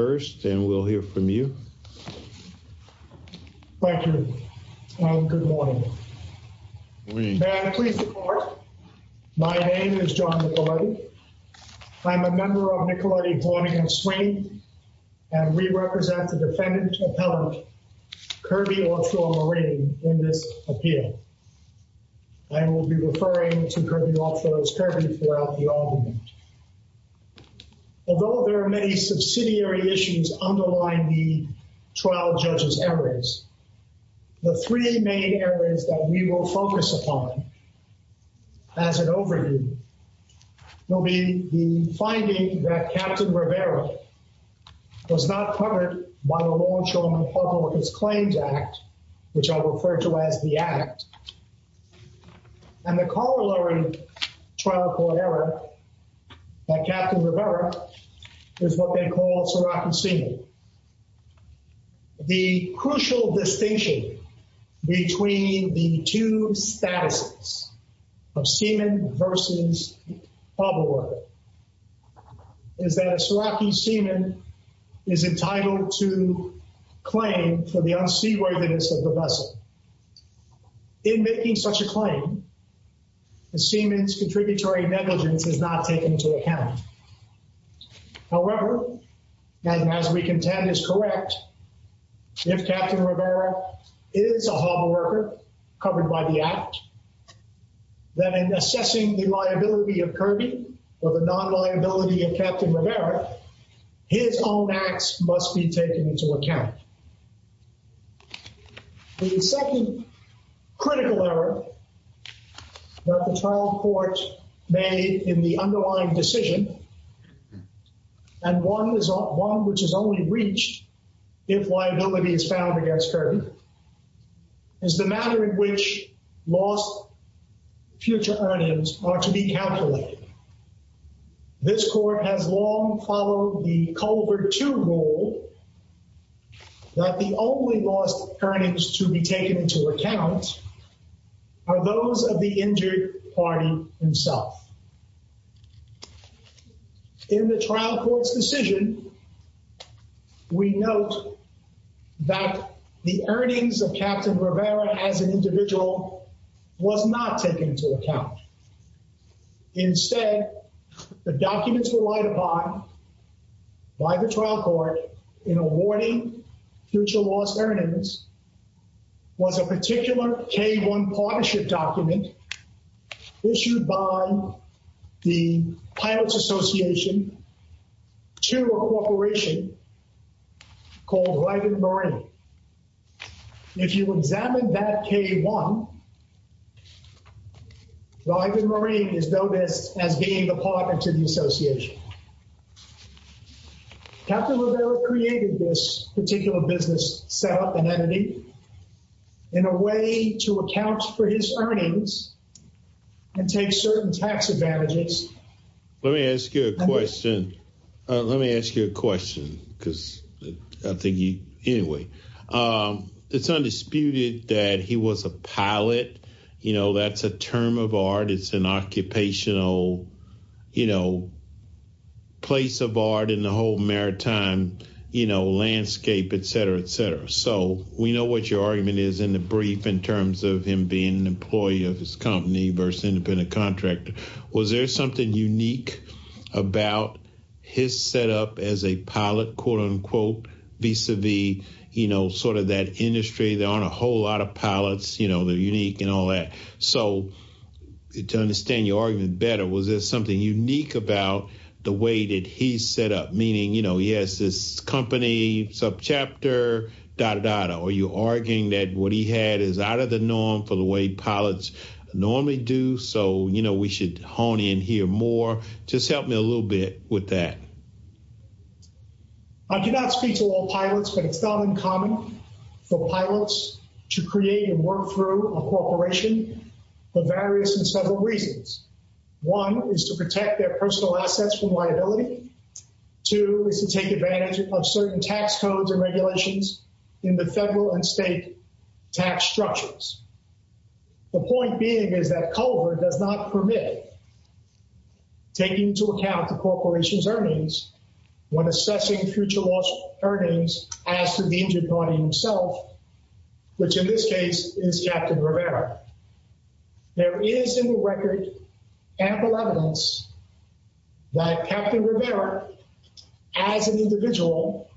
first and we'll hear from you. Thank you. Good morning. My name is John Nicoletti. I'm a member of Nicoletti Hornigan Swing and we represent the defendant appellant Kirby Ochoa Marine in this appeal. I will be referring to Kirby Ochoa as Kirby throughout the argument. Although there are many subsidiary issues underlying the trial judge's errors, the three main areas that we will focus upon as an overview will be the finding that Captain Rivera was not covered by the Law Enforcement Republicans Claims Act which I believe that Captain Rivera is what they call a Serachi seaman. The crucial distinction between the two statuses of seaman versus public worker is that a Serachi seaman is entitled to claim for the unseaworthiness of the vessel. In making such a claim, a seaman's liability must be taken into account. However, and as we contend is correct, if Captain Rivera is a harbor worker covered by the act, then in assessing the liability of Kirby or the non-liability of Captain Rivera, his own acts must be taken into account. The second critical error that the trial court made in the underlying decision, and one which is only reached if liability is found against Kirby, is the matter in which lost future earnings are to be calculated. This court has long followed the Culver II rule that the only lost earnings to be taken into account are those of the injured party himself. In the trial court's decision, we note that the earnings of Captain Rivera as an individual was not taken into account. Instead, the documents relied upon by the trial court in awarding future lost earnings was a particular K-1 partnership document issued by the Pilots Association to a corporation called Ivan Marine. If you examine that K-1, Ivan Marine is known as being the partner to the association. Captain Rivera created this particular business set up and entity in a way to account for his earnings and take certain tax advantages. Let me ask you a question. Let me ask you a question, because I think you anyway, it's undisputed that he was a pilot. You know, that's a term of art. It's an occupational, you know, place of art in the whole maritime, you know, landscape, etc, etc. So we know what your argument is in the brief in terms of him being an employee of his company versus independent contractor. Was there something unique about his set up as a pilot, quote unquote, vis-a-vis, you know, sort of that industry? There aren't a whole lot of pilots, you know, they're unique and all that. So to understand your argument better, was there something unique about the way that he set up? Meaning, you know, he has this company, subchapter, dot, dot, dot. Are you arguing that what he had is out of the norm for the way pilots normally do? So, you know, we should hone in here more. Just help me a little bit with that. I do not speak to all pilots, but it's not uncommon for pilots to create and work through a corporation for various and several reasons. One is to protect their personal assets from liability. Two is to take advantage of certain tax codes and regulations in the federal and state tax structures. The point being is that COVID does not permit taking into account the corporation's earnings when assessing future loss earnings as to the injured body himself, which in this case is Captain Rivera. There is in the record ample evidence that Captain Rivera, as an individual,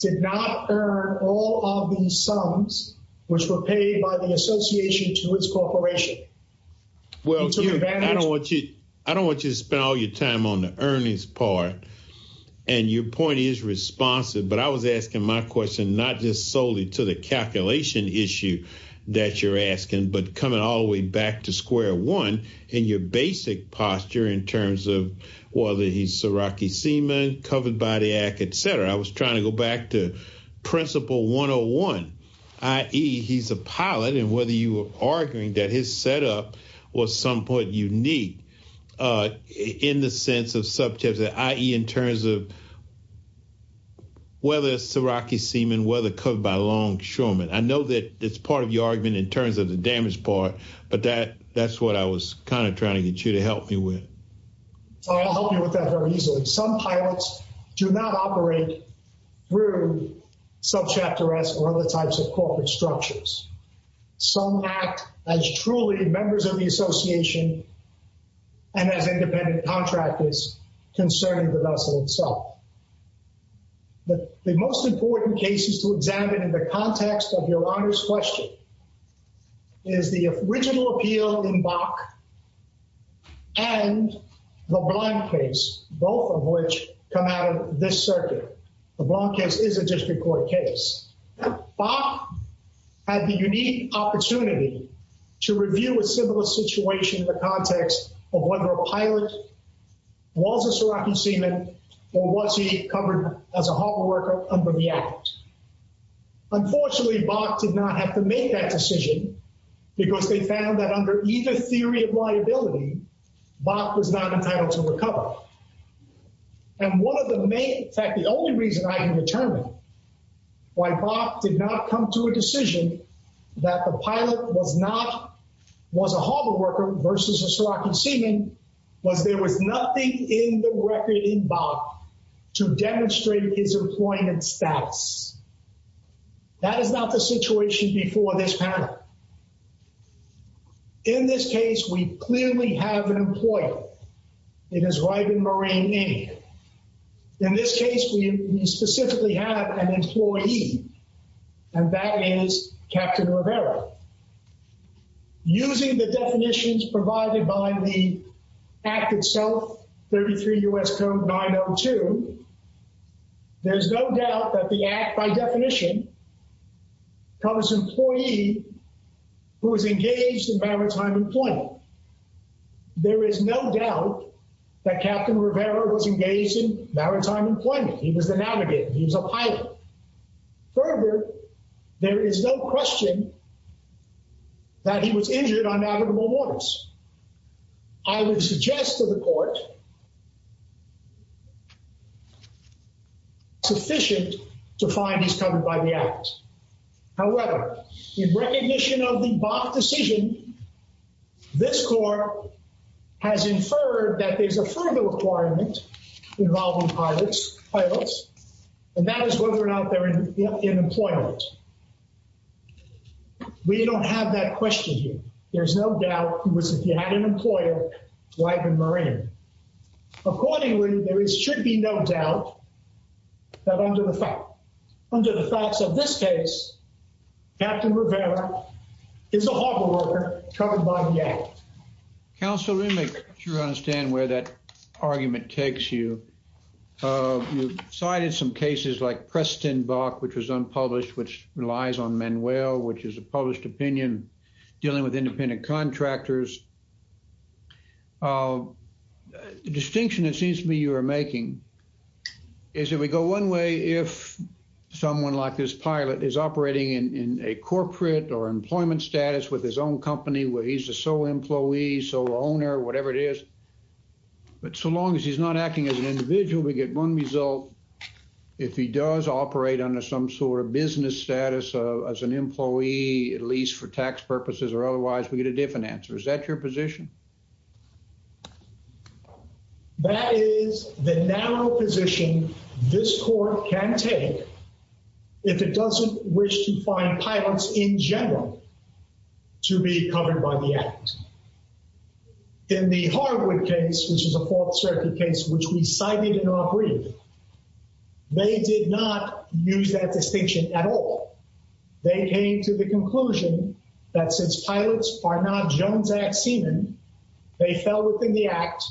did not earn all of the sums which were paid by the association to his corporation. Well, I don't want you to spend all your time on the earnings part, and your point is responsive, but I was asking my question not just solely to the calculation issue that you're asking, but coming all the way back to square one in your basic posture in terms of whether he's Siraki Seaman, covered by the act, et cetera. I was trying to go back to principle 101, i.e., he's a pilot, and whether you were arguing that his setup was somewhat unique in the sense of i.e., in terms of whether Siraki Seaman, whether covered by Longshoreman. I know that it's part of your argument in terms of the damage part, but that's what I was kind of trying to get you to help me with. I'll help you with that very easily. Some pilots do not operate through subchapter S or other types of corporate structures. Some act as truly members of the concern of the vessel itself. The most important cases to examine in the context of Your Honor's question is the original appeal in Bach and the Blanc case, both of which come out of this circuit. The Blanc case is a district court case. Bach had the unique opportunity to review a similar situation in the context of whether a pilot was a Siraki Seaman, or was he covered as a harbor worker under the act. Unfortunately, Bach did not have to make that decision because they found that under either theory of liability, Bach was not entitled to recover. And one of the main, in fact, the only reason I can determine why Bach did not come to a decision that the pilot was not, was a harbor worker versus a Siraki Seaman, was there was nothing in the record in Bach to demonstrate his employment status. That is not the situation before this panel. In this case, we clearly have an employer. It is Ryben Moraine, in this case, we specifically have an employee, and that is Captain Rivera. Using the definitions provided by the act itself, 33 U.S. Code 902, there's no doubt that the act, by definition, covers an employee who is engaged in maritime employment. There is no doubt that Captain Rivera was engaged in maritime employment. He was the navigator. He was a pilot. Further, there is no question that he was injured on navigable waters. I would suggest to the court sufficient to find he's covered by the act. However, in recognition of the Bach decision, this court has inferred that there's a further requirement involving pilots, and that is whether or not they're in employment. We don't have that question here. There's no doubt he was, if he had an employer, Ryben Moraine. Accordingly, there should be no doubt that under the facts of this case, Captain Rivera is a harbor worker covered by the act. Counsel, let me make sure I understand where that argument takes you. You cited some cases like Preston Bach, which was unpublished, which relies on Manuel, which is a published opinion dealing with independent contractors. The distinction, it seems to me, you are making is that we go one way if someone like this pilot is operating in a corporate or employment status with his own company where he's a sole employee, sole owner, whatever it is. But so long as he's not acting as an individual, we get one result. If he does operate under some sort of business status as an employee, at least for tax purposes or otherwise, we get a different answer. Is that your position? That is the narrow position this court can take if it doesn't wish to find pilots in general to be covered by the act. In the Harwood case, which is a Fourth Circuit case, which we cited in our brief, they did not use that distinction at all. They came to the conclusion that since pilots are not Jones Act semen, they fell within the act,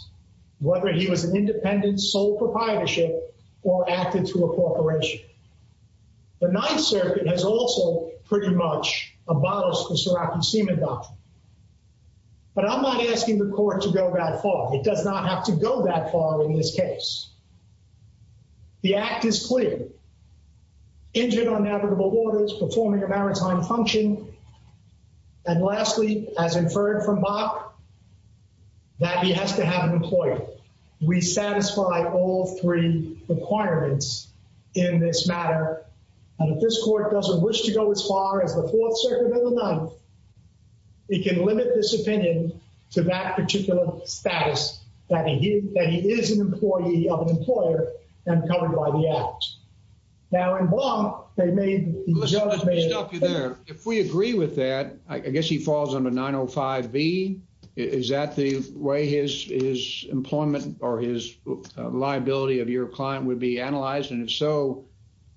whether he was an independent sole proprietorship or acted through a corporation. The Ninth Circuit has also pretty much abolished the Serafin semen doctrine. But I'm not asking the court to go that far. It does not have to go that far in this case. The act is clear. Injured on navigable waters, performing a And lastly, as inferred from Bach, that he has to have an employee. We satisfy all three requirements in this matter. And if this court doesn't wish to go as far as the Fourth Circuit and the Ninth, it can limit this opinion to that particular status, that he is an employee of an I guess he falls on a 905 B. Is that the way his his employment or his liability of your client would be analyzed? And if so,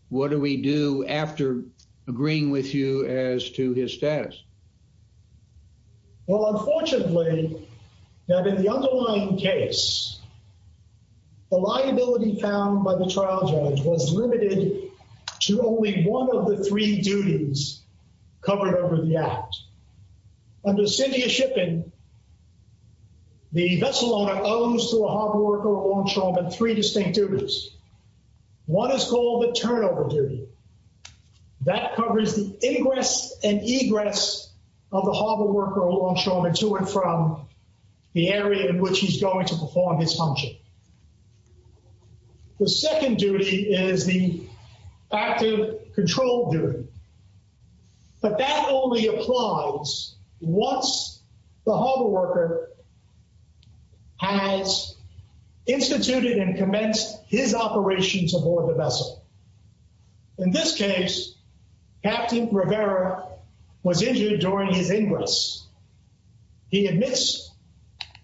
what do we do after agreeing with you as to his status? Well, unfortunately, that in the underlying case, the liability found by the trial judge was limited to only one of the three duties covered over the act. Under Cynthia Shippen, the vessel owner owns to a harbor worker or a longshoreman three distinct duties. One is called the turnover duty. That covers the ingress and egress of the harbor worker or longshoreman to and from the area in which he's going to perform his function. The second duty is the active control duty. But that only applies once the harbor worker has instituted and commenced his operations aboard the vessel. In this case, Captain Rivera was injured during his ingress. He admits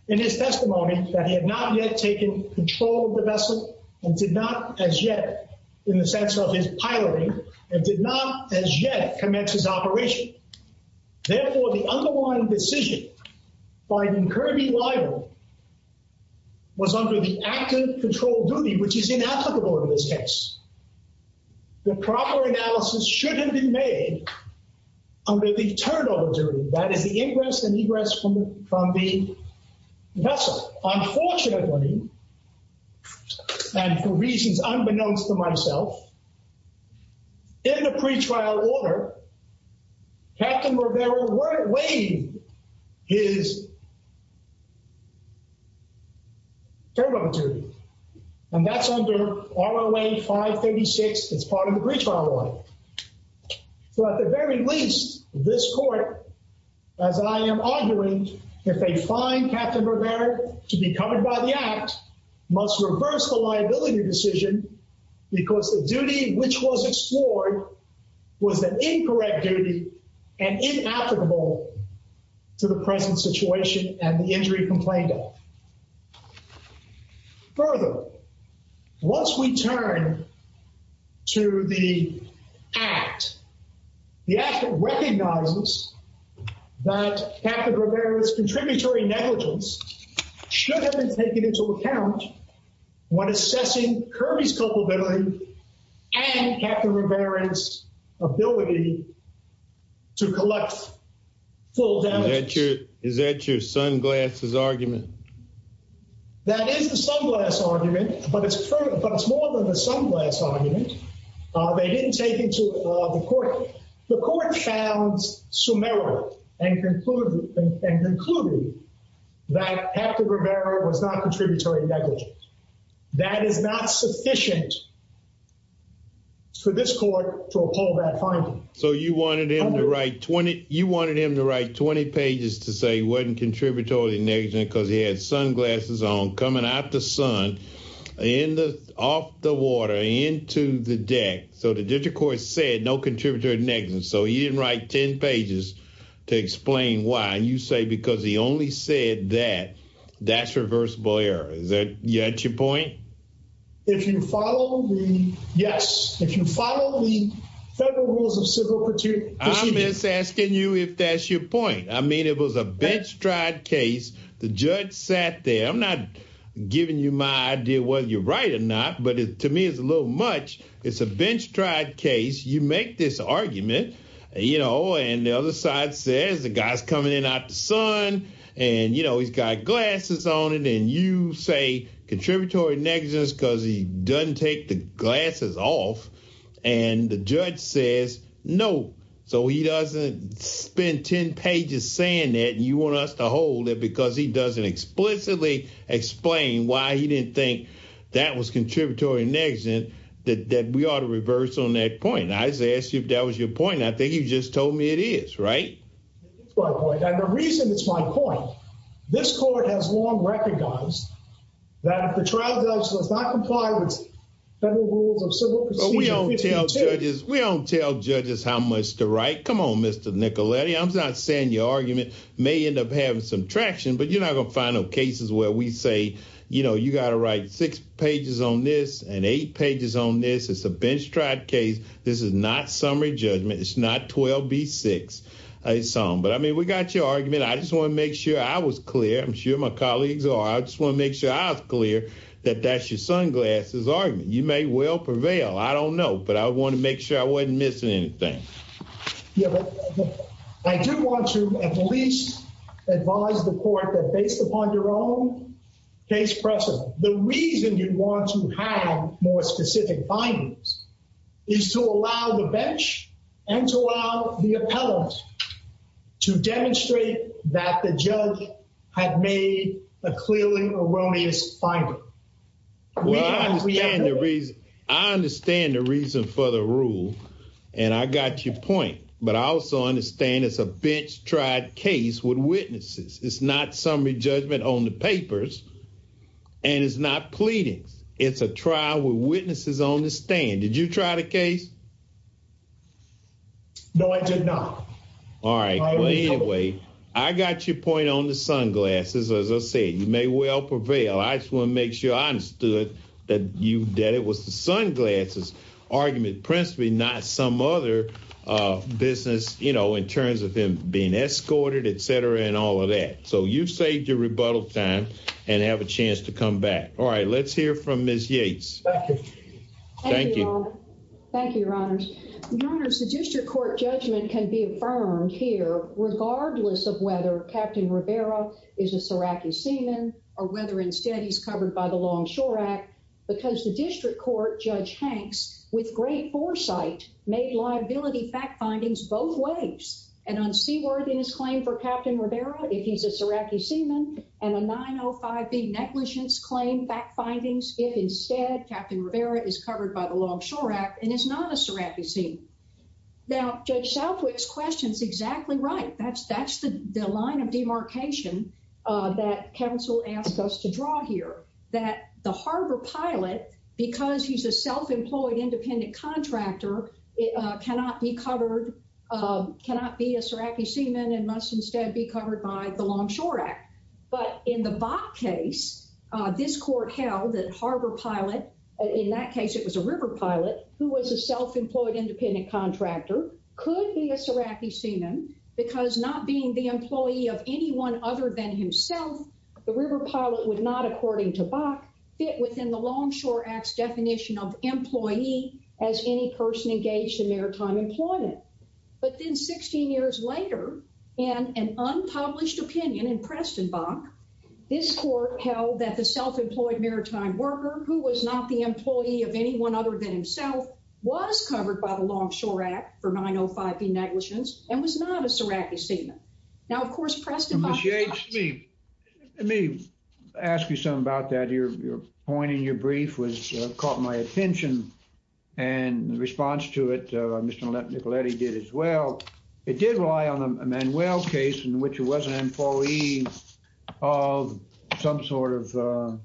in his testimony that he had not yet taken control of the vessel and did not as yet, in the sense of his piloting, and did not as yet commence his operation. Therefore, the underlying decision by the currently liable was under the active control duty, which is inapplicable in this case. The proper analysis shouldn't be made under the turnover duty. That is the ingress and egress from the vessel. Unfortunately, and for reasons unbeknownst to myself, in the pretrial order, Captain Rivera would have waived his duty. And that's under ROA 536 as part of the pretrial order. So at the very least, this court, as I am arguing, if they find Captain Rivera to be covered by the act, must reverse the liability decision because the duty which was explored was an incorrect duty and inapplicable to the present situation and the injury complained of. Further, once we turn to the act, the act recognizes that Captain Rivera's contributory negligence should have been taken into account when assessing Kirby's culpability and Captain Rivera's ability to collect full damages. Is that your sunglasses argument? That is the sunglass argument, but it's more than a sunglass argument. They didn't take into the court. The court found summary and concluded that Captain Rivera was not contributory negligent. That is not sufficient for this court to uphold that finding. So you wanted him to write 20 pages to say he wasn't contributory negligent because he had sunglasses on, coming out the sun, off the water, into the deck. So the district court said no contributory negligence. So he didn't write 10 pages to explain why. And you say because he only said that, that's reversible error. Is that your point? If you follow the, yes, if you follow the federal rules of civil procedure. I'm just asking you if that's your point. I mean, it was a bench tried case. The judge sat there. I'm not giving you my idea whether you're right or not, but to me it's a little much. It's a bench tried case. You make this argument, you know, and the other side says the guy's coming in out the sun and, you know, he's got glasses on it. And you say contributory negligence because he doesn't take the glasses off. And the judge says no. So he doesn't spend 10 pages saying that. And you want us to hold it because he doesn't explicitly explain why he didn't think that was contributory negligence, that we ought to reverse on that point. I just asked you if that was your point. I think you just told me it is, right? That's my point. And the reason it's my point, this court has long recognized that if the trial judge does not comply with federal rules of civil proceedings... But we don't tell judges how much to write. Come on, Mr. Nicoletti. I'm not saying your argument may end up having some traction, but you're not going to find no cases where we say, you know, you got to write six pages on this and eight pages on this. It's a bench tried case. This is not summary judgment. It's not 12B6. But I mean, we got your argument. I just want to make sure I was clear. I'm sure my colleagues are. I just want to make sure I was clear that that's your sunglasses argument. You may well prevail. I don't know, but I want to make sure I wasn't missing anything. Yeah, but I do want to at least advise the court that based upon your own case precedent, the reason you'd want to have more specific findings is to allow the bench and to allow the appellate to demonstrate that the judge had made a clearly erroneous finding. I understand the reason for the rule. And I got your point. But I also understand it's a bench tried case with witnesses. It's not summary judgment on the papers. And it's not pleadings. It's a trial with witnesses on the stand. Did you try the case? No, I did not. All right. Well, anyway, I got your point on the sunglasses. As I said, you may well prevail. I just want to make sure I understood that you that it was the sunglasses argument, principally not some other business, you know, in terms of him being escorted, etc. and all of that. So you've saved your rebuttal time and have a chance to come back. All right, let's hear from Ms. Yates. Thank you. Thank you. Thank you, Your Honors. Your Honors, the district court judgment can be affirmed here, regardless of whether Captain Rivera is a Serachi seaman or whether instead he's covered by the Longshore Act, because the district court, Judge Hanks, with great foresight, made liability fact findings both ways. And on Seaworth in his claim for Captain Rivera, if he's a Serachi seaman and a 905B negligence claim fact findings, if instead Captain Rivera is covered by the Longshore Act and is not a Serachi seaman. Now, Judge Southwick's question's exactly right. That's the line of demarcation that counsel asked us to draw here, that the harbor pilot, because he's a self-employed independent contractor, cannot be covered, and must instead be covered by the Longshore Act. But in the Bok case, this court held that harbor pilot, in that case it was a river pilot, who was a self-employed independent contractor, could be a Serachi seaman, because not being the employee of anyone other than himself, the river pilot would not, according to Bok, fit within the Longshore Act's definition of employee as any person engaged in maritime employment. But then, 16 years later, in an unpublished opinion in Preston Bok, this court held that the self-employed maritime worker, who was not the employee of anyone other than himself, was covered by the Longshore Act for 905B negligence and was not a Serachi seaman. Now, of course, Preston Bok- Ms. Yates, let me ask you something about that. Your point in your brief was, caught my attention, and the response to it, Mr. Nicoletti did as well. It did rely on the Emanuel case, in which it was an employee of some sort of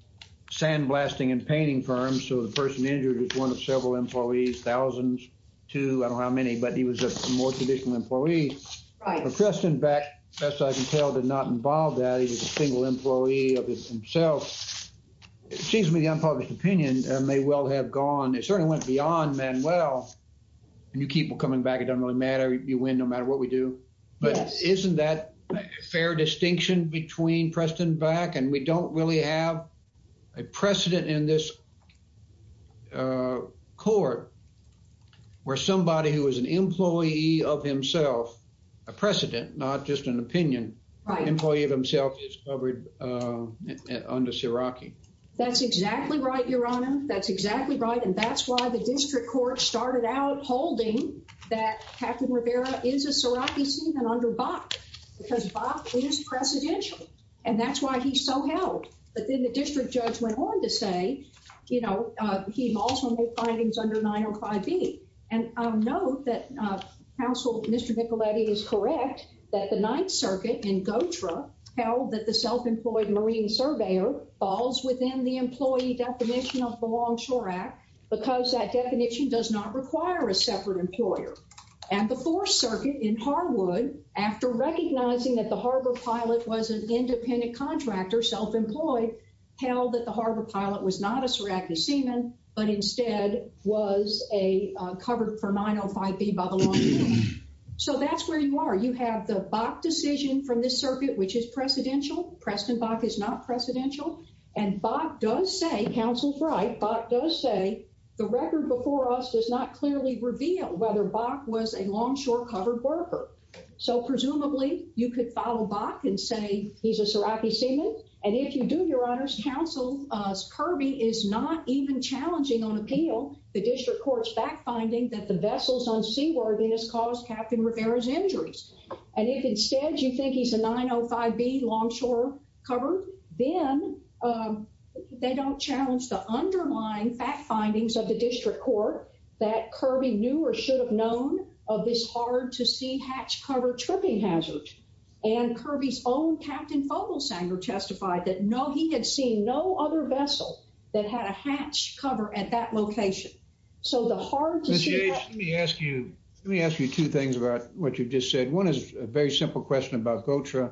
sandblasting and painting firm, so the person injured was one of several employees, thousands to, I don't know how many, but he was a more traditional employee. Right. But Preston Bok, best I can tell, did not involve that. He was a single employee of himself. It seems to me the unpublished opinion may well have gone, it certainly went beyond Emanuel, and you keep coming back, it doesn't really matter, you win no matter what we do. But isn't that a fair distinction between Preston Bok, and we don't really have a precedent in this court where somebody who is an employee of himself, a precedent, not just an opinion, employee of himself is covered under Seraki? That's exactly right, Your Honor, that's exactly right, and that's why the district court started out holding that Captain Rivera is a Seraki scene and under Bok, because Bok is precedential, and that's why he's so held. But then the district judge went on to say, you know, he also made findings under 905B. And note that counsel, Mr. Nicoletti is correct, that the Ninth Circuit in Gotra held that the self-employed marine surveyor falls within the employee definition of the Longshore Act, because that definition does not require a separate employer. And the Fourth Circuit in Harwood, after recognizing that the harbor pilot was an independent contractor, self-employed, held that the harbor pilot was not a Seraki seaman, but instead was a covered for 905B by the Longshore. So that's where you are. You have the Bok decision from this circuit, which is precedential. Preston Bok is not precedential. And Bok does say, counsel's right, Bok does say the record before us does not clearly reveal whether Bok was a Longshore covered worker. So presumably, you could follow Bok and say he's a Seraki seaman. And if you do, your honors, counsel, Kirby is not even challenging on appeal the district court's fact finding that the vessels on Seaworthy has caused Captain Rivera's injuries. And if instead you think he's a 905B Longshore covered, then they don't challenge the underlying fact findings of the district court that Kirby knew or should have known of this hard-to-see Fogel Sanger testified that no, he had seen no other vessel that had a hatch cover at that location. So the hard-to-see... Let me ask you, let me ask you two things about what you just said. One is a very simple question about GOTRA,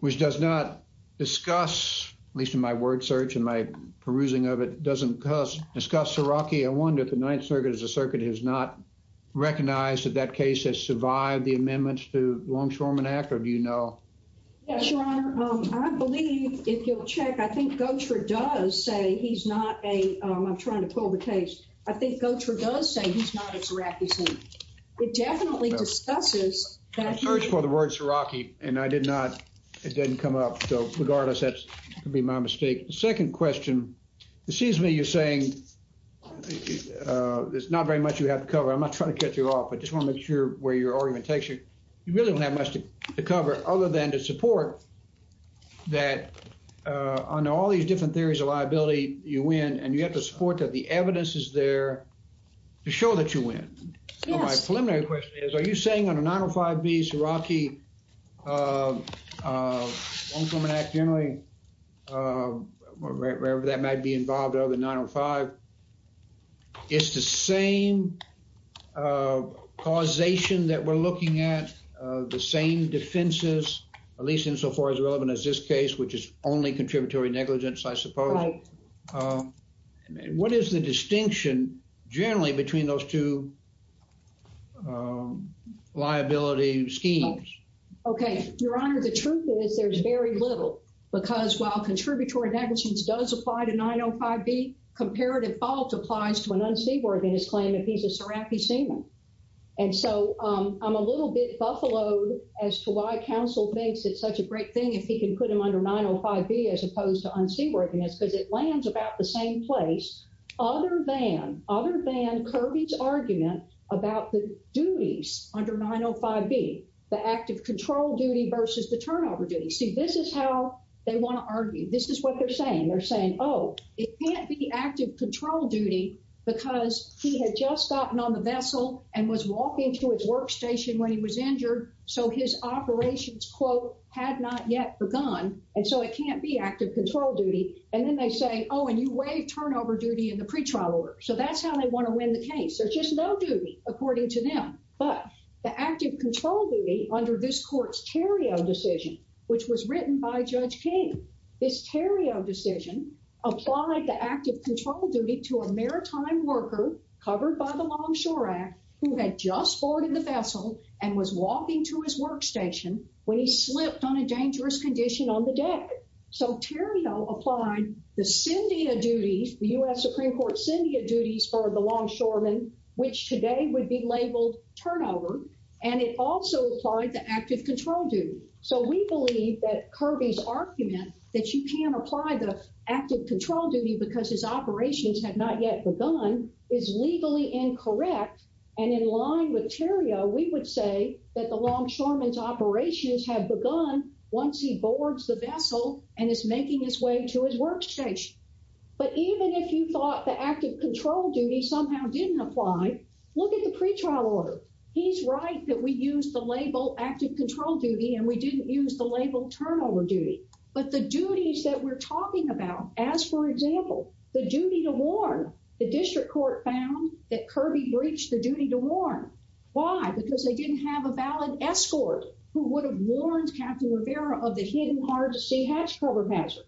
which does not discuss, at least in my word search and my perusing of it, doesn't discuss Seraki. I wonder if the Ninth Circuit as a circuit has not recognized that that case has survived the amendments to the Longshoreman Act, or do you know? Yes, your honor. I believe if you'll check, I think GOTRA does say he's not a... I'm trying to pull the case. I think GOTRA does say he's not a Seraki seaman. It definitely discusses that... I searched for the word Seraki and it didn't come up. So regardless, that could be my mistake. The second question, excuse me, you're saying there's not very much you have to cover. I'm not trying to cut you off, but just want to make sure where your argument takes you. You really don't have much to cover other than to support that under all these different theories of liability, you win, and you have to support that the evidence is there to show that you win. My preliminary question is, are you saying under 905B, Seraki, Longshoreman Act generally, wherever that might be involved other than 905, it's the same causation that we're looking at the same defenses, at least insofar as relevant as this case, which is only contributory negligence, I suppose. What is the distinction generally between those two liability schemes? Okay, your honor, the truth is there's very little because while contributory negligence does apply to 905B, comparative fault applies to an unseaborn claim if he's a Seraki seaman. I'm a little bit buffaloed as to why counsel thinks it's such a great thing if he can put him under 905B as opposed to unseaworthiness because it lands about the same place other than Kirby's argument about the duties under 905B, the active control duty versus the turnover duty. See, this is how they want to argue. This is what they're saying. They're saying, oh, it can't be active control duty because he had just gotten on the vessel and was walking to his workstation when he was injured, so his operations, quote, had not yet begun, and so it can't be active control duty. And then they say, oh, and you waived turnover duty in the pretrial order. So that's how they want to win the case. There's just no duty, according to them. But the active control duty under this court's Theriault decision, which was written by Judge King, this Theriault decision applied the active control duty to a maritime worker covered by the Longshore Act who had just boarded the vessel and was walking to his workstation when he slipped on a dangerous condition on the deck. So Theriault applied the syndia duties, the U.S. Supreme Court syndia duties for the longshoreman, which today would be labeled turnover, and it also applied the active control duty. So we believe that Kirby's argument that you can't apply the active control duty because his operations had not yet begun is legally incorrect. And in line with Theriault, we would say that the longshoreman's operations have begun once he boards the vessel and is making his way to his workstation. But even if you thought the active control duty somehow didn't apply, look at the pretrial order. He's right that we used the label active control duty and we didn't use the label turnover duty. But the duties that we're talking about, as for example, the duty to warn, the district court found that Kirby breached the duty to warn. Why? Because they didn't have a valid escort who would have warned Captain Rivera of the hidden hard-to-see hatch cover hazard.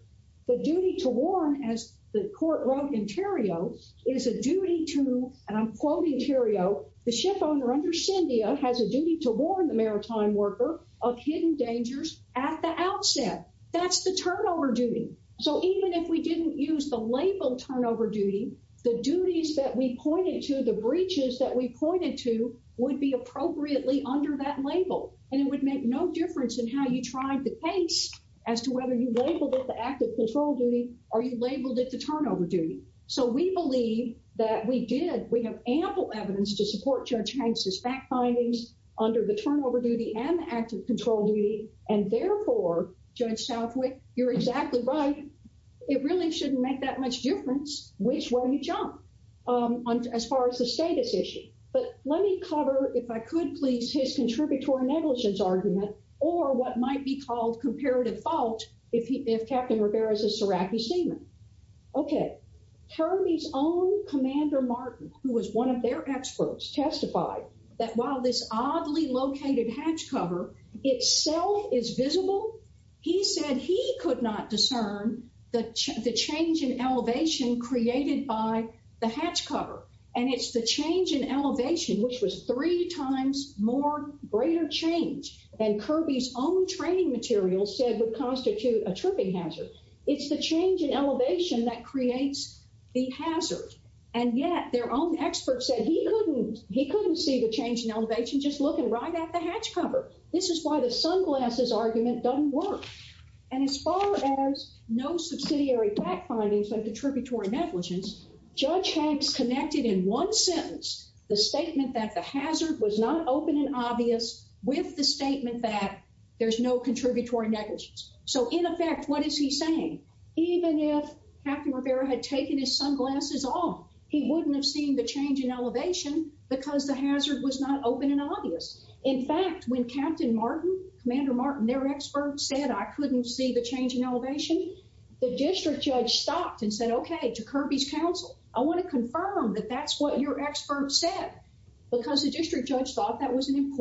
The duty to warn, as the court wrote in Theriault, is a duty to, and I'm quoting Theriault, the shipowner under syndia has a duty to warn the maritime worker of hidden dangers at the outset. That's the turnover duty. So even if we didn't use the label turnover duty, the duties that we pointed to, the breaches that we pointed to, would be appropriately under that label. And it would make no difference in how you tried the case as to whether you labeled it the active control duty or you labeled it the turnover duty. So we believe that we did. We have ample evidence to support Judge Hanks's fact findings under the turnover duty and the active control duty. And therefore, Judge Southwick, you're exactly right. It really shouldn't make that much difference which way you jump as far as the status issue. But let me cover, if I could please, his contributory negligence argument or what might be called comparative fault if he, if Captain Rivera is a Serachi seaman. Okay, Kirby's own Commander Martin, who was one of their experts, testified that while this oddly located hatch cover itself is visible, he said he could not discern the change in elevation created by the hatch cover. And it's the change in elevation which was three times more greater change than materials said would constitute a tripping hazard. It's the change in elevation that creates the hazard. And yet their own experts said he couldn't, he couldn't see the change in elevation just looking right at the hatch cover. This is why the sunglasses argument doesn't work. And as far as no subsidiary fact findings like the tributary negligence, Judge Hanks connected in one sentence the statement that the hazard was not open and obvious with the statement that there's no contributory negligence. So in effect, what is he saying? Even if Captain Rivera had taken his sunglasses off, he wouldn't have seen the change in elevation because the hazard was not open and obvious. In fact, when Captain Martin, Commander Martin, their experts said I couldn't see the change in elevation, the district judge stopped and said, okay, to Kirby's counsel, I want to confirm that that's what your expert said. Because the district judge thought that was an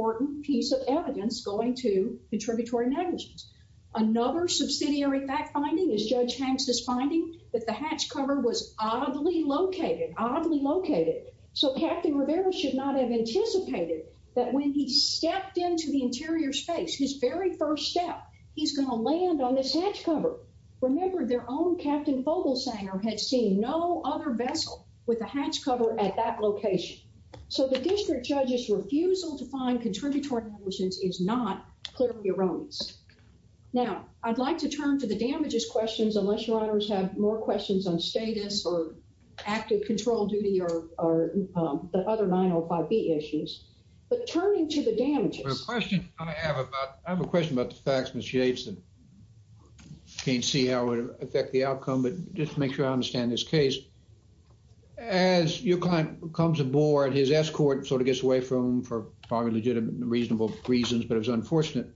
contributory negligence. Another subsidiary fact finding is Judge Hanks' finding that the hatch cover was oddly located, oddly located. So Captain Rivera should not have anticipated that when he stepped into the interior space, his very first step, he's going to land on this hatch cover. Remember their own Captain Vogelsanger had seen no other vessel with a hatch cover at that location. So the district judge's refusal to find contributory negligence is not clearly erroneous. Now, I'd like to turn to the damages questions, unless your honors have more questions on status or active control duty or the other 905B issues. But turning to the damages. The question I have about, I have a question about the facts, Ms. Yates, and can't see how it would affect the outcome, but just to make sure I understand this case. As your client comes aboard, his escort sort of gets away from him for probably legitimate and reasonable reasons, but it was unfortunate.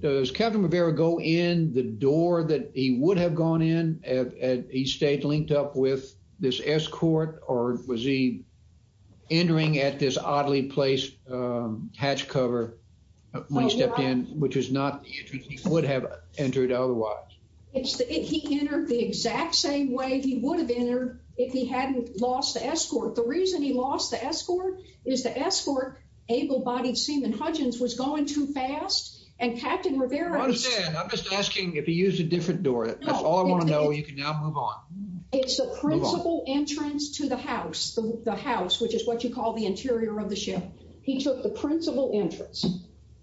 Does Captain Rivera go in the door that he would have gone in if he stayed linked up with this escort? Or was he entering at this oddly placed hatch cover when he stepped in, which is not the entrance he would have entered otherwise? It's that he entered the exact same way he would have entered if he hadn't lost the escort. The reason he lost the escort is the escort, able-bodied Seaman Hudgens, was going too fast. And Captain Rivera- I understand. I'm just asking if he used a different door. That's all I want to know. You can now move on. It's the principal entrance to the house, the house, which is what you call the interior of the ship. He took the principal entrance.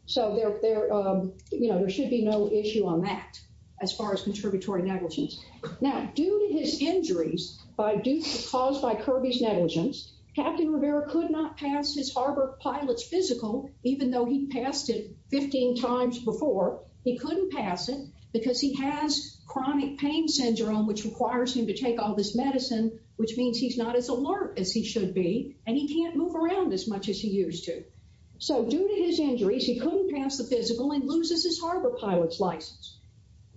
So there should be no issue on that as far as contributory negligence. Now, due to his injuries caused by Kirby's negligence, Captain Rivera could not pass his harbor pilot's physical, even though he passed it 15 times before. He couldn't pass it because he has chronic pain syndrome, which requires him to take all this medicine, which means he's not as alert as he should be and he can't move around as much as he used to. So due to his injuries, he couldn't pass the physical and loses his harbor pilot's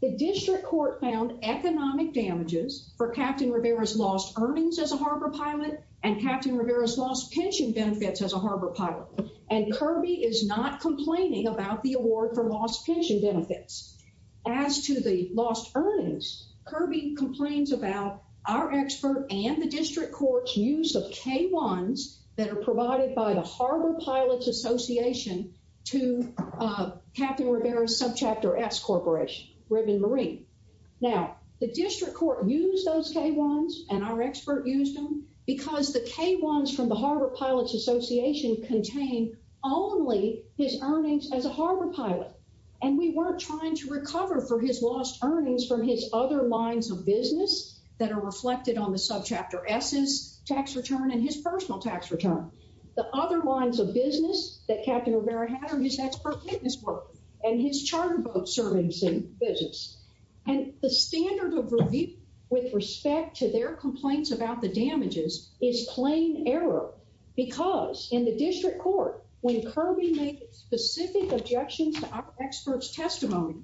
The district court found economic damages for Captain Rivera's lost earnings as a harbor pilot and Captain Rivera's lost pension benefits as a harbor pilot, and Kirby is not complaining about the award for lost pension benefits. As to the lost earnings, Kirby complains about our expert and the district court's use of K-1s that are provided by the Harbor Pilots Association to Captain Rivera's Subchapter S corporation, Ribbon Marine. Now, the district court used those K-1s and our expert used them because the K-1s from the Harbor Pilots Association contain only his earnings as a harbor pilot, and we weren't trying to recover for his lost earnings from his other lines of business that are reflected on the Subchapter S's tax return and his personal tax The other lines of business that Captain Rivera had are his expert witness work and his charter boat servicing business, and the standard of review with respect to their complaints about the damages is plain error because in the district court, when Kirby made specific objections to our expert's testimony,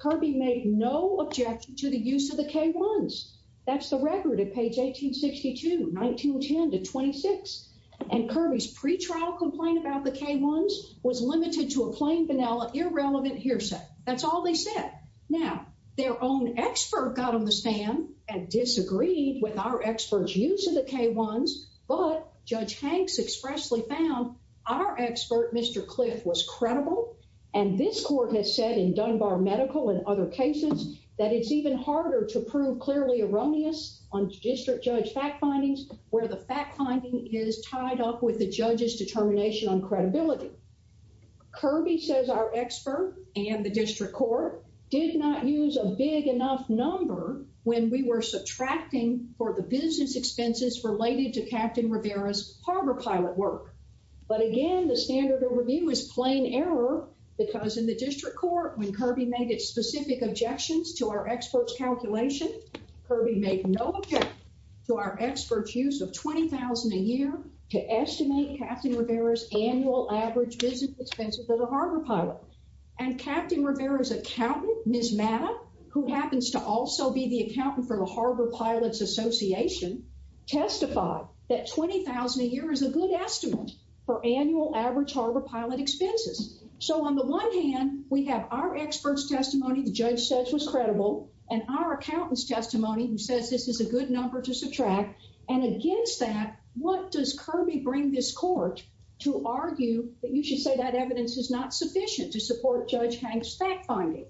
Kirby made no objection to the use of the K-1s. That's the record at page 1862, 1910 to 26, and Kirby's pre-trial complaint about the K-1s was limited to a plain, vanilla, irrelevant hearsay. That's all they said. Now, their own expert got on the stand and disagreed with our expert's use of the K-1s, but Judge Hanks expressly found our expert, Mr. Cliff, was credible, and this court has said in Dunbar Medical and other cases that it's even fact findings where the fact finding is tied up with the judge's determination on credibility. Kirby says our expert and the district court did not use a big enough number when we were subtracting for the business expenses related to Captain Rivera's harbor pilot work, but again, the standard of review is plain error because in the district court, when Kirby made specific objections to our expert's calculation, Kirby made no objection to our expert's use of $20,000 a year to estimate Captain Rivera's annual average business expense for the harbor pilot, and Captain Rivera's accountant, Ms. Mata, who happens to also be the accountant for the Harbor Pilots Association, testified that $20,000 a year is a good estimate for annual average harbor pilot expenses. So, on the one hand, we have our expert's testimony the judge says was credible and our accountant's testimony who says this is a good number to subtract, and against that, what does Kirby bring this court to argue that you should say that evidence is not sufficient to support Judge Hanks' fact finding?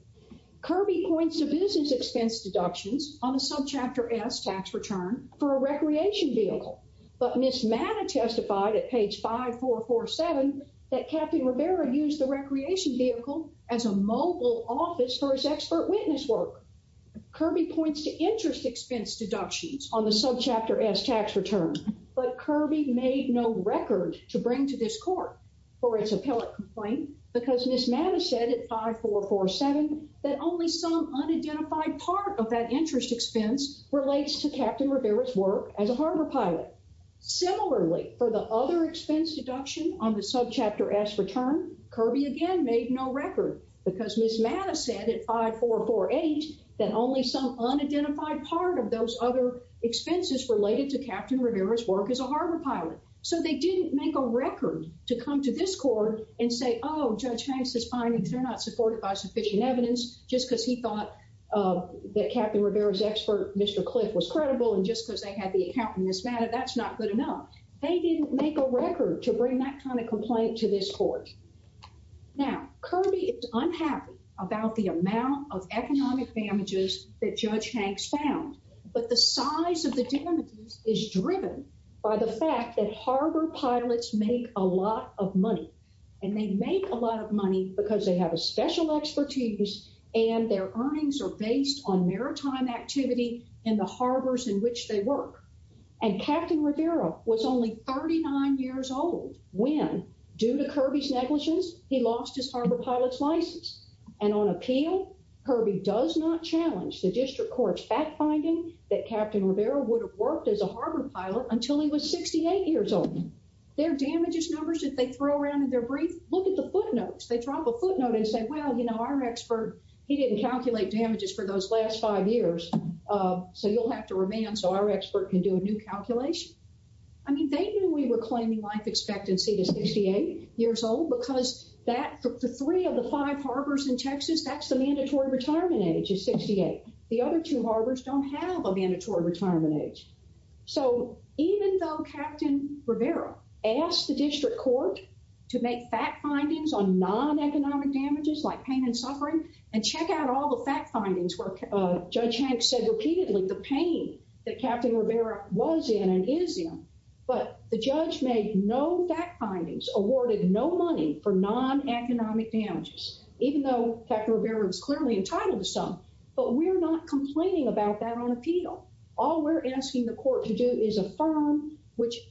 Kirby points to business expense deductions on the subchapter S tax return for a recreation vehicle, but Ms. Mata testified at page 5447 that Captain Rivera used the recreation vehicle as a mobile office for his expert witness work. Kirby points to interest expense deductions on the subchapter S tax return, but Kirby made no record to bring to this court for its appellate complaint because Ms. Mata said at 5447 that only some unidentified part of that interest expense relates to Captain Rivera's work as a harbor pilot. Similarly, for the other expense deduction on the subchapter S return, Kirby again made no record because Ms. Mata said at 5448 that only some unidentified part of those other expenses related to Captain Rivera's work as a harbor pilot. So, they didn't make a record to come to this court and say, oh, Judge Hanks' findings are not supported by sufficient evidence just because he thought that Captain Rivera's expert, Mr. Cliff, was credible and just because they had the account in this matter, that's not good enough. They didn't make a record to bring that kind of complaint to this court. Now, Kirby is unhappy about the amount of economic damages that Judge Hanks found, but the size of the damages is driven by the fact that harbor pilots make a lot of money, and they make a lot of money because they have a special expertise and their earnings are based on maritime activity in the harbors in which they work. And Captain Rivera was only 39 years old when, due to Kirby's negligence, he lost his harbor pilot's license. And on appeal, Kirby does not challenge the district court's fact-finding that Captain Rivera would have worked as a harbor pilot until he was 68 years old. Their damages numbers that they throw around in their brief, look at the footnotes. They drop a footnote and say, well, you know, our expert, he didn't calculate damages for those last five years, so you'll have to remand so our expert can do a new calculation. I mean, they knew we were claiming life expectancy to 68 years old because that, for three of the five harbors in Texas, that's the mandatory retirement age is 68. The other two harbors don't have a mandatory retirement age. So, even though Captain Rivera asked the district court to make fact findings on non-economic damages like pain and suffering, and check out all the fact findings where Judge Hanks said repeatedly the pain that Captain Rivera was in and is in, but the judge made no fact findings, awarded no money for non-economic damages, even though Captain Rivera was clearly entitled to some. But we're not complaining about that on appeal. All we're asking the court to do is affirm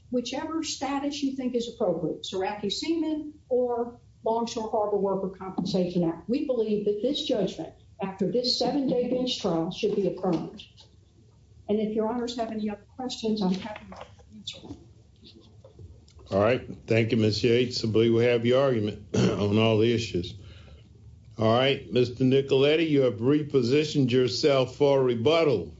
whichever status you think is appropriate, Ceraki-Seaman or Longshore Harbor Worker Compensation Act. We believe that this judgment, after this seven-day bench trial, should be affirmed. And if your honors have any other questions, I'm happy to answer them. All right, thank you, Ms. Yates. I believe we have your argument on all the issues. All right, Mr. Nicoletti, you have repositioned yourself for a rebuttal.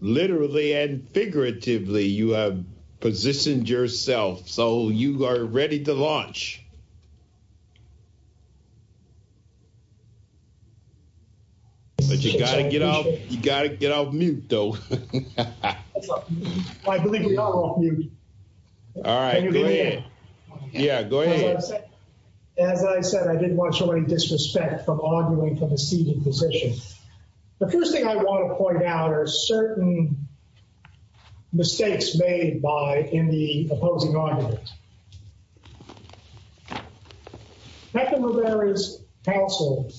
Literally and figuratively, you have positioned yourself, so you are ready to launch. But you got to get off mute, though. I believe we're all off mute. All right, go ahead. Yeah, go ahead. As I said, I didn't want you to get any disrespect from arguing for the seated position. The first thing I want to point out are certain mistakes made in the opposing argument. Captain Rivera's counsel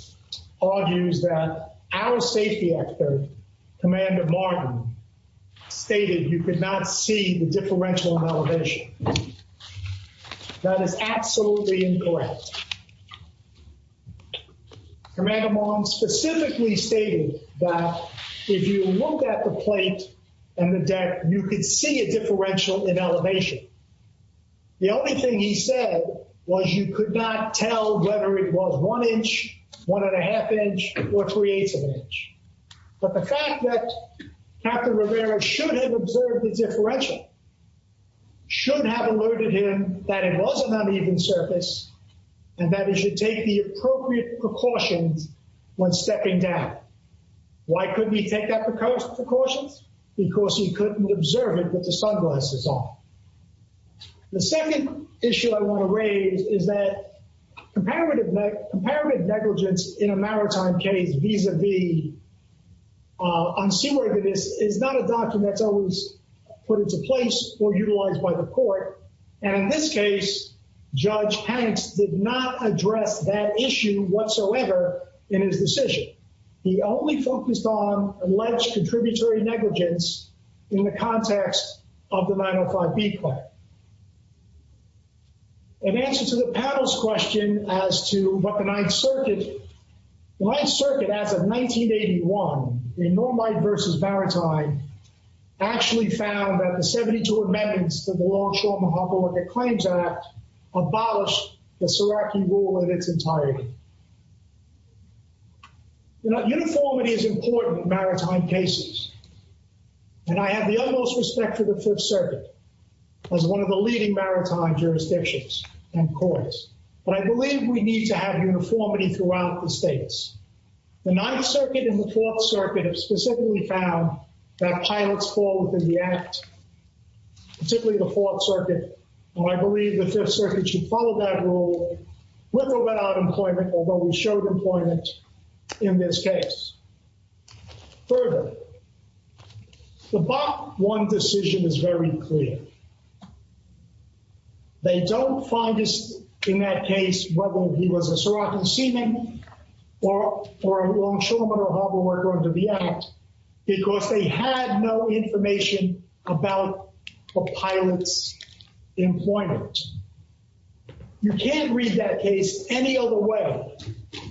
argues that our safety actor, Commander Martin, stated you could not see the differential in elevation. That is absolutely incorrect. Commander Martin specifically stated that if you looked at the plate and the deck, you could see a differential in elevation. The only thing he said was you could not tell whether it was one inch, one and a half inch, or three-eighths of an inch. But the fact that Captain Rivera should have observed the differential, should have alerted him that it was an uneven surface, and that he should take the appropriate precautions when stepping down. Why couldn't he take that precaution? Because he couldn't observe it with the sunglasses on. The second issue I want to raise is that comparative negligence in a maritime case, vis-a-vis unseaworthiness, is not a document that's always put into place or utilized by the court. And in this case, Judge Hanks did not address that issue whatsoever in his decision. He only focused on alleged contributory negligence in the context of the 905B claim. In answer to the panel's question as to what the Ninth Circuit, the Ninth Circuit, as of 1981, in Normite v. Baratide, actually found that the 72 amendments to the Longshore Mahapaluka Claims Act abolished the Suraki rule in its entirety. You know, uniformity is important in maritime cases. And I have the utmost respect for the Fifth Circuit as one of the leading maritime jurisdictions and courts. But I believe we need to have uniformity throughout the states. The Ninth Circuit and the Fourth Circuit have specifically found that pilots fall within the Act, particularly the Fourth Circuit. And I believe the Fifth Circuit should follow that rule with or without employment, although we showed employment in this case. Further, the Bak-1 decision is very clear. They don't find in that case whether he was a Suraki seaman or a longshoreman or harbor worker under the Act, because they had no information about a pilot's employment. You can't read that case any other way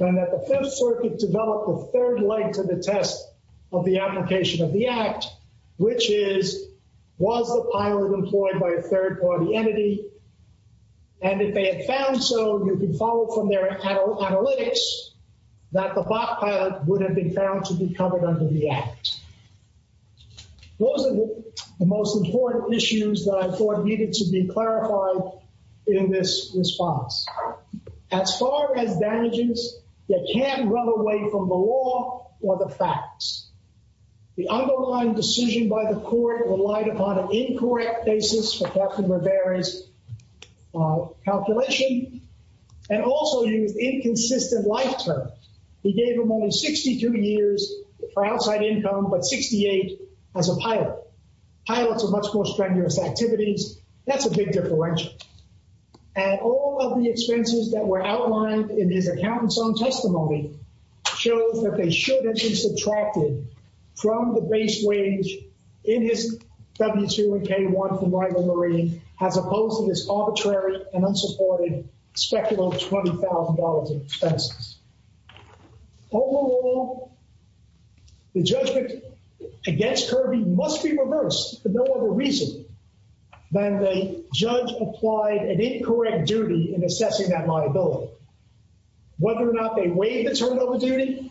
than that the Fifth Circuit developed a third leg to the test of the application of the Act, which is, was the pilot employed by a third-party entity? And if they had found so, you can follow from their analytics, that the Bak pilot would have been found to be covered under the Act. Those are the most important issues that I thought needed to be clarified in this response. As far as damages, you can't run away from the law or the facts. The underlying decision by the and also used inconsistent lifetime. He gave him only 62 years for outside income, but 68 as a pilot. Pilots are much more strenuous activities. That's a big differential. And all of the expenses that were outlined in his accountant's own testimony shows that they should have been subtracted from the base wage in his W-2 and K-1 from $20,000 in expenses. Overall, the judgment against Kirby must be reversed for no other reason than the judge applied an incorrect duty in assessing that liability. Whether or not they waived the turnover duty,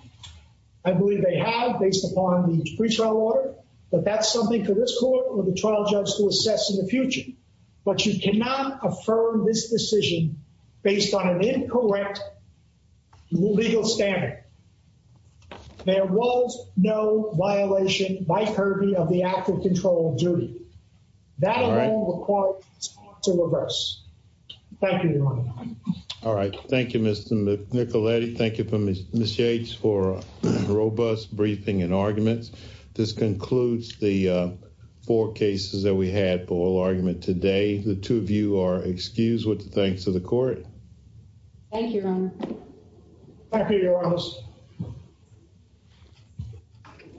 I believe they have based upon the pre-trial order, but that's something for this court or the trial judge to assess in the future. But you cannot affirm this decision based on an incorrect legal standard. There was no violation by Kirby of the act of control of duty. That all required to reverse. Thank you, Your Honor. All right. Thank you, Mr. Nicoletti. Thank you, Ms. Yates, for a robust briefing and arguments. This concludes the four cases that we had for oral argument today. The two of you are excused with the thanks of the court. Thank you, Your Honor. Thank you, Your Honor.